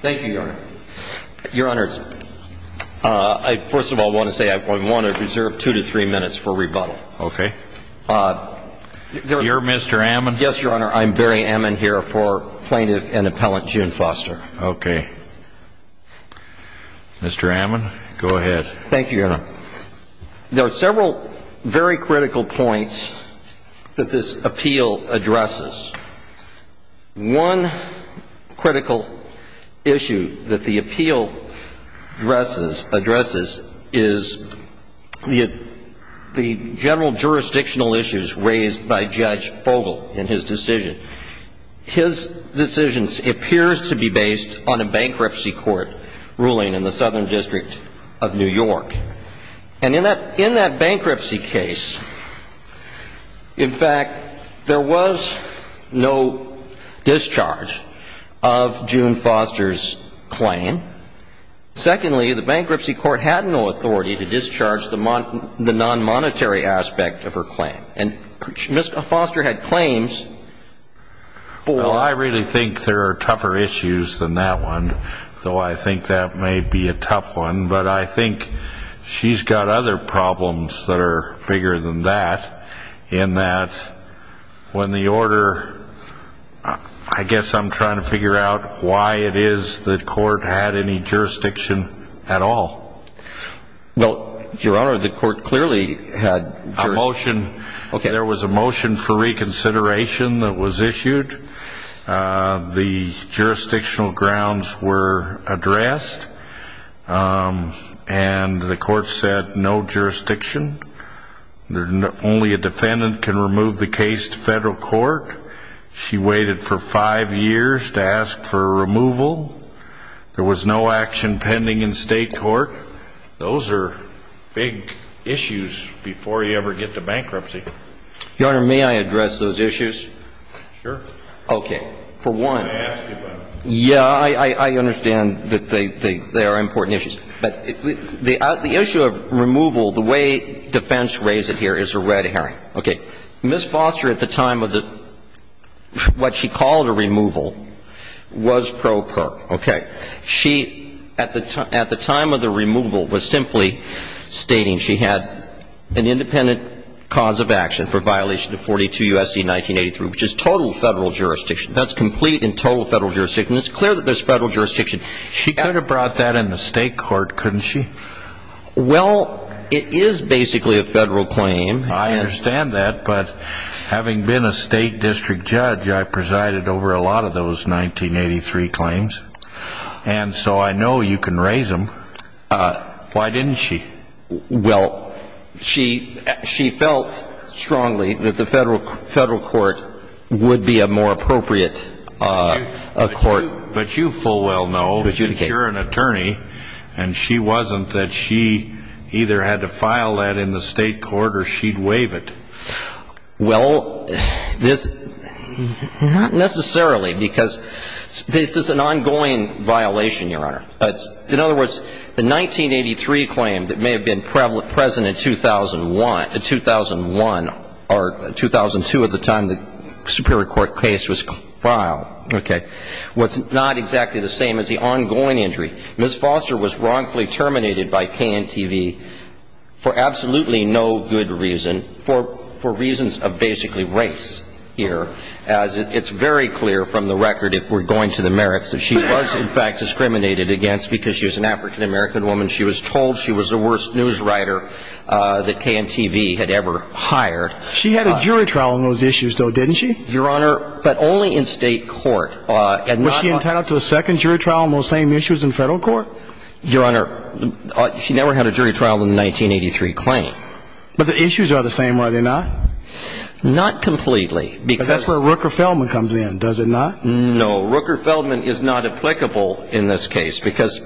Thank you, Your Honor. Your Honor, I first of all want to say I want to reserve two to three minutes for rebuttal. Okay. You're Mr. Ammon? Yes, Your Honor. I'm Barry Ammon here for plaintiff and appellant June Foster. Okay. Mr. Ammon, go ahead. Thank you, Your Honor. There are several very critical points that this appeal addresses. One critical issue that the appeal addresses is the general jurisdictional issues raised by Judge Fogel in his decision. His decision appears to be based on a bankruptcy court ruling in the Southern District of New York. And in that bankruptcy case, in fact, there was no discharge of June Foster's claim. Secondly, the bankruptcy court had no authority to discharge the non-monetary aspect of her claim. And Foster had claims for Well, I really think there are tougher issues than that one, though I think that may be a tough one. But I think she's got other problems that are bigger than that, in that when the order I guess I'm trying to figure out why it is the court had any jurisdiction at all. Well, Your Honor, the court clearly had jurisdiction There was a motion for reconsideration that was issued. The jurisdictional grounds were addressed. And the court said no jurisdiction. Only a defendant can remove the case to federal court. She waited for five years to ask for removal. There was no action pending in state court. Those are big issues before you ever get to bankruptcy. Your Honor, may I address those issues? Sure. Okay. For one, yeah, I understand that they are important issues. But the issue of removal, the way defense raised it here is a red herring. Okay. Ms. Foster, at the time of the what she called a removal, was pro per. Okay. She, at the time of the removal, was simply stating she had an independent cause of action for violation of 42 U.S.C. 1983, which is total federal jurisdiction. That's complete and total federal jurisdiction. It's clear that there's federal jurisdiction. She could have brought that in the state court, couldn't she? Well, it is basically a federal claim. I understand that, but having been a state district judge, I presided over a lot of those 1983 claims. And so I know you can raise them. Why didn't she? Well, she felt strongly that the federal court would be a more appropriate court. But you full well know that you're an attorney, and she wasn't that she either had to file that in the state court or she'd waive it. Well, this not necessarily because this is an ongoing violation, Your Honor. In other words, the 1983 claim that may have been present in 2001 or 2002 at the time the Superior Court case was filed, okay, was not exactly the same as the ongoing injury. Ms. Foster was wrongfully terminated by KNTV for absolutely no good reason. For reasons of basically race here, as it's very clear from the record, if we're going to the merits, that she was, in fact, discriminated against because she was an African-American woman. She was told she was the worst news writer that KNTV had ever hired. She had a jury trial on those issues, though, didn't she? Your Honor, but only in state court. Was she entitled to a second jury trial on those same issues in federal court? Your Honor, she never had a jury trial on the 1983 claim. But the issues are the same, are they not? Not completely. But that's where Rooker-Feldman comes in, does it not? No. Rooker-Feldman is not applicable in this case because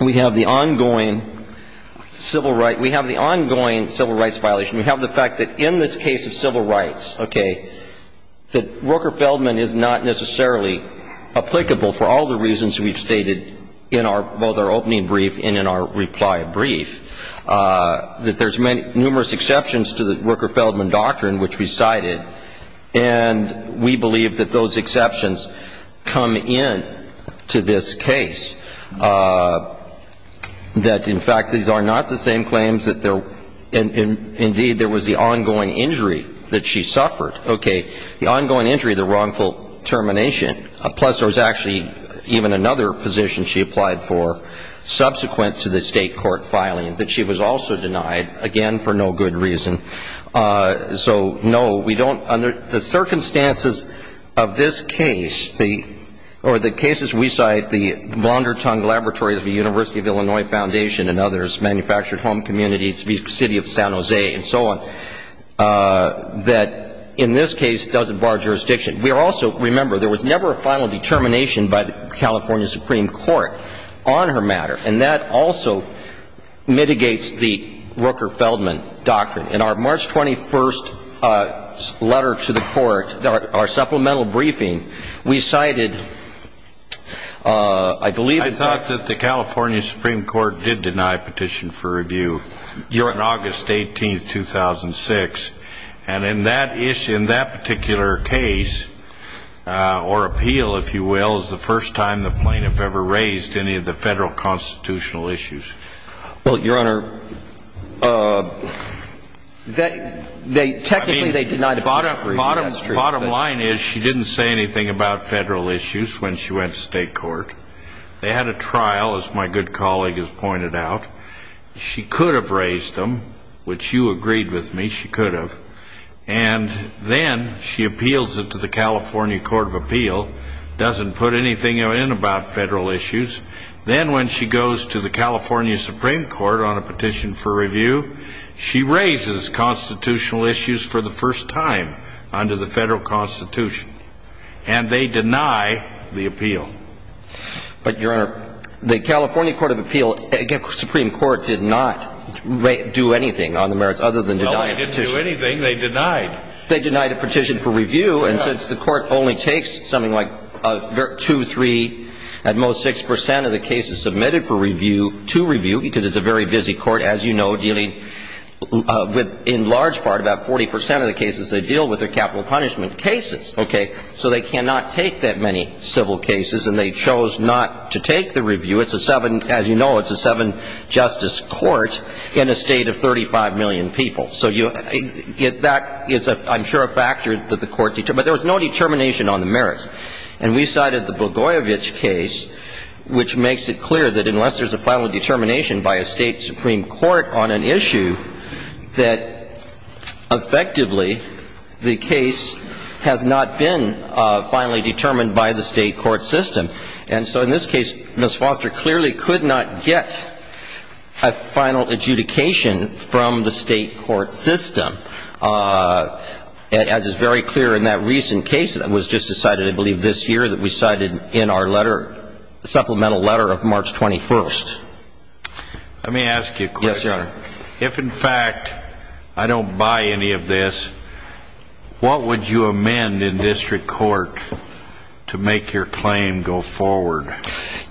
we have the ongoing civil rights violation. We have the fact that in this case of civil rights, okay, that Rooker-Feldman is not necessarily applicable for all the reasons we've stated in both our opening brief and in our reply brief, that there's numerous exceptions to the Rooker-Feldman doctrine which we cited, and we believe that those exceptions come into this case, that, in fact, these are not the same claims that there were. Indeed, there was the ongoing injury that she suffered, okay, the ongoing injury, the wrongful termination. Plus, there was actually even another position she applied for subsequent to the state court filing that she was also denied, again, for no good reason. So, no, we don't, under the circumstances of this case, or the cases we cite, the laundertongue laboratories of the University of Illinois Foundation and others, manufactured home communities, the city of San Jose and so on, that in this case doesn't bar jurisdiction. We are also, remember, there was never a final determination by the California Supreme Court on her matter, and that also mitigates the Rooker-Feldman doctrine. In our March 21st letter to the court, our supplemental briefing, we cited, I believe, I thought that the California Supreme Court did deny a petition for review on August 18th, 2006, and in that issue, in that particular case, or appeal, if you will, is the first time the plaintiff ever raised any of the federal constitutional issues. Well, Your Honor, technically they denied it. Bottom line is she didn't say anything about federal issues when she went to state court. They had a trial, as my good colleague has pointed out. She could have raised them, which you agreed with me she could have, and then she appeals it to the California Court of Appeal, doesn't put anything in about federal issues. Then when she goes to the California Supreme Court on a petition for review, she raises constitutional issues for the first time under the federal constitution, and they deny the appeal. But, Your Honor, the California Court of Appeal, again, the Supreme Court did not do anything on the merits other than deny a petition. No, they didn't do anything. They denied. They denied a petition for review, and since the court only takes something like two, three, at most 6 percent of the cases submitted for review, to review, because it's a very busy court, as you know, dealing with, in large part, about 40 percent of the cases they deal with are capital punishment cases, okay? So they cannot take that many civil cases, and they chose not to take the review. It's a seven, as you know, it's a seven-justice court in a state of 35 million people. So that is, I'm sure, a factor that the court determined. But there was no determination on the merits. And we cited the Blagojevich case, which makes it clear that unless there's a final determination by a state supreme court on an issue, that effectively the case has not been finally determined by the state court system. And so in this case, Ms. Foster clearly could not get a final adjudication from the state court system, as is very clear in that recent case that was just decided, I believe, this year, that we cited in our letter, supplemental letter of March 21st. Let me ask you a question. Yes, Your Honor. If, in fact, I don't buy any of this, what would you amend in district court to make your claim go forward?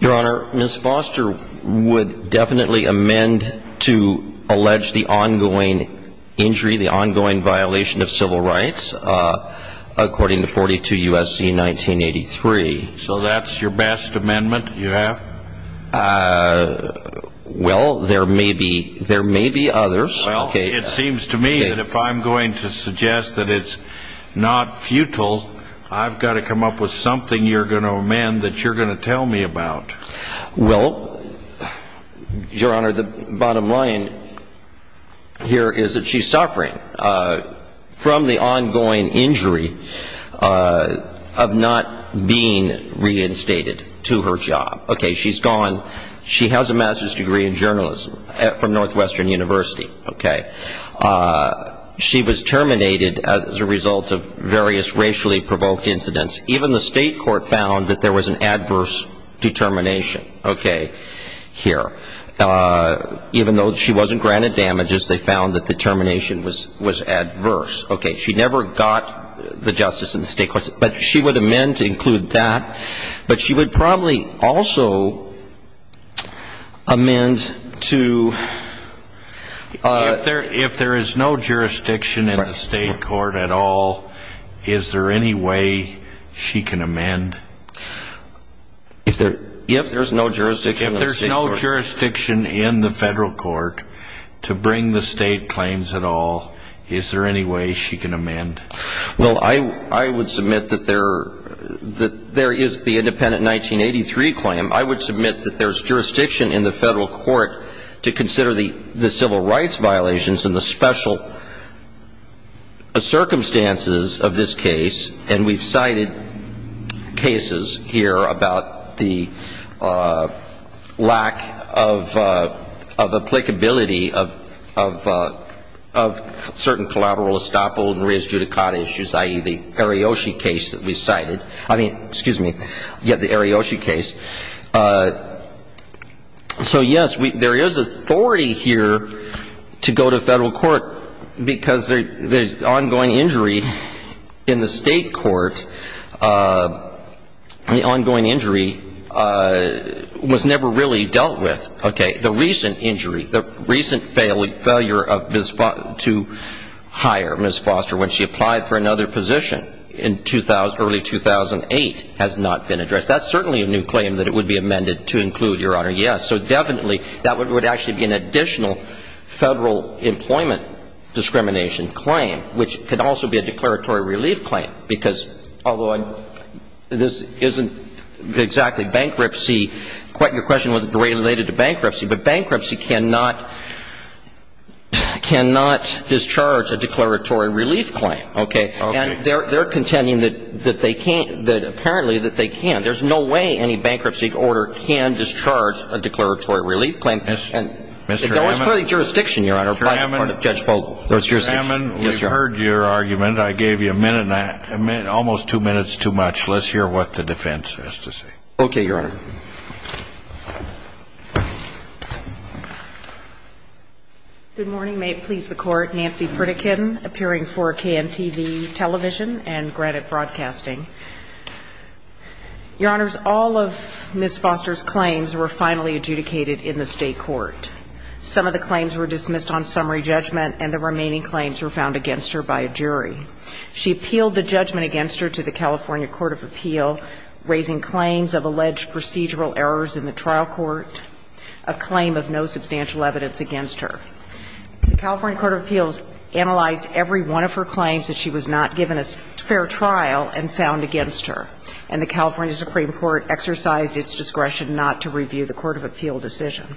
Your Honor, Ms. Foster would definitely amend to allege the ongoing injury, the ongoing violation of civil rights, according to 42 U.S.C. 1983. So that's your best amendment you have? Well, there may be others. Well, it seems to me that if I'm going to suggest that it's not futile, I've got to come up with something you're going to amend that you're going to tell me about. Well, Your Honor, the bottom line here is that she's suffering from the ongoing injury of not being reinstated to her job. Okay. She's gone. She has a master's degree in journalism from Northwestern University. Okay. She was terminated as a result of various racially provoked incidents. Even the state court found that there was an adverse determination. Okay. Here. Even though she wasn't granted damages, they found that the termination was adverse. Okay. She never got the justice in the state courts. But she would amend to include that. But she would probably also amend to ---- If there is no jurisdiction in the state court at all, is there any way she can amend? If there's no jurisdiction in the state court. If there's no jurisdiction in the federal court to bring the state claims at all, is there any way she can amend? Well, I would submit that there is the independent 1983 claim. I would submit that there's jurisdiction in the federal court to consider the civil rights violations and the special circumstances of this case. And we've cited cases here about the lack of applicability of certain collateral estoppel and re-adjudicat issues, i.e., the Ariyoshi case that we cited. I mean, excuse me. Yeah, the Ariyoshi case. So, yes, there is authority here to go to federal court because the ongoing injury in the state court, the ongoing injury was never really dealt with. Okay. The recent injury, the recent failure to hire Ms. Foster when she applied for another position in early 2008 has not been addressed. That's certainly a new claim that it would be amended to include, Your Honor. Yes. So definitely, that would actually be an additional federal employment discrimination claim, which could also be a declaratory relief claim because, although this isn't exactly bankruptcy, your question was related to bankruptcy, but bankruptcy cannot discharge a declaratory relief claim. Okay. And they're contending that they can't, that apparently that they can. There's no way any bankruptcy order can discharge a declaratory relief claim. And there was clearly jurisdiction, Your Honor, by Judge Fogel. There was jurisdiction. Mr. Ammon, we've heard your argument. I gave you a minute and almost two minutes too much. Let's hear what the defense has to say. Okay, Your Honor. Good morning. May it please the Court. Nancy Pritikin, appearing for KNTV television and Granite Broadcasting. Your Honors, all of Ms. Foster's claims were finally adjudicated in the State court. Some of the claims were dismissed on summary judgment, and the remaining claims were found against her by a jury. She appealed the judgment against her to the California Court of Appeal, raising claims of alleged procedural errors in the trial court, a claim of no substantial evidence against her. The California Court of Appeals analyzed every one of her claims that she was not given a fair trial and found against her. And the California Supreme Court exercised its discretion not to review the court of appeal decision.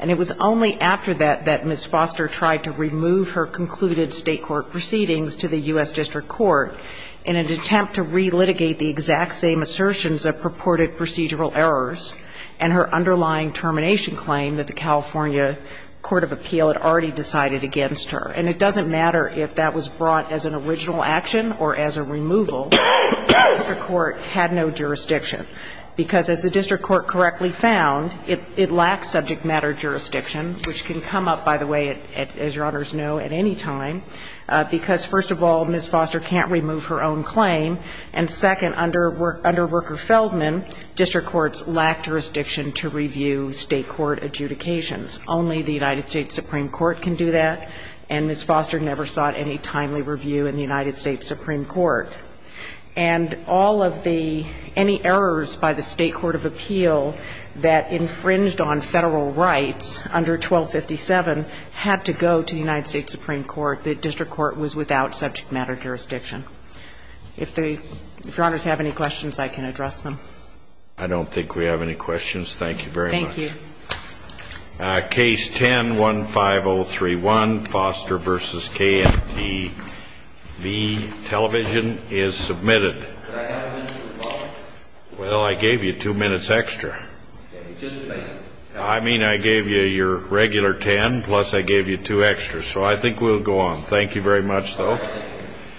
And it was only after that that Ms. Foster tried to remove her concluded State court proceedings to the U.S. District Court in an attempt to relitigate the exact same assertions of purported procedural errors and her underlying termination claim that the California Court of Appeal had already decided against her. And it doesn't matter if that was brought as an original action or as a removal. The district court had no jurisdiction. Because as the district court correctly found, it lacks subject matter jurisdiction, which can come up, by the way, as Your Honors know, at any time, because, first of all, Ms. Foster can't remove her own claim. And second, under Worker-Feldman, district courts lacked jurisdiction to review State court adjudications. Only the United States Supreme Court can do that. And Ms. Foster never sought any timely review in the United States Supreme Court. And all of the any errors by the State court of appeal that infringed on Federal rights under 1257 had to go to the United States Supreme Court. The district court was without subject matter jurisdiction. If Your Honors have any questions, I can address them. I don't think we have any questions. Thank you very much. Thank you. Case 10-15031, Foster v. KMTV, television, is submitted. Could I have a minute with Bob? Well, I gave you two minutes extra. Okay, just a minute. I mean I gave you your regular ten, plus I gave you two extras. So I think we'll go on. Thank you very much, though. All right, thank you.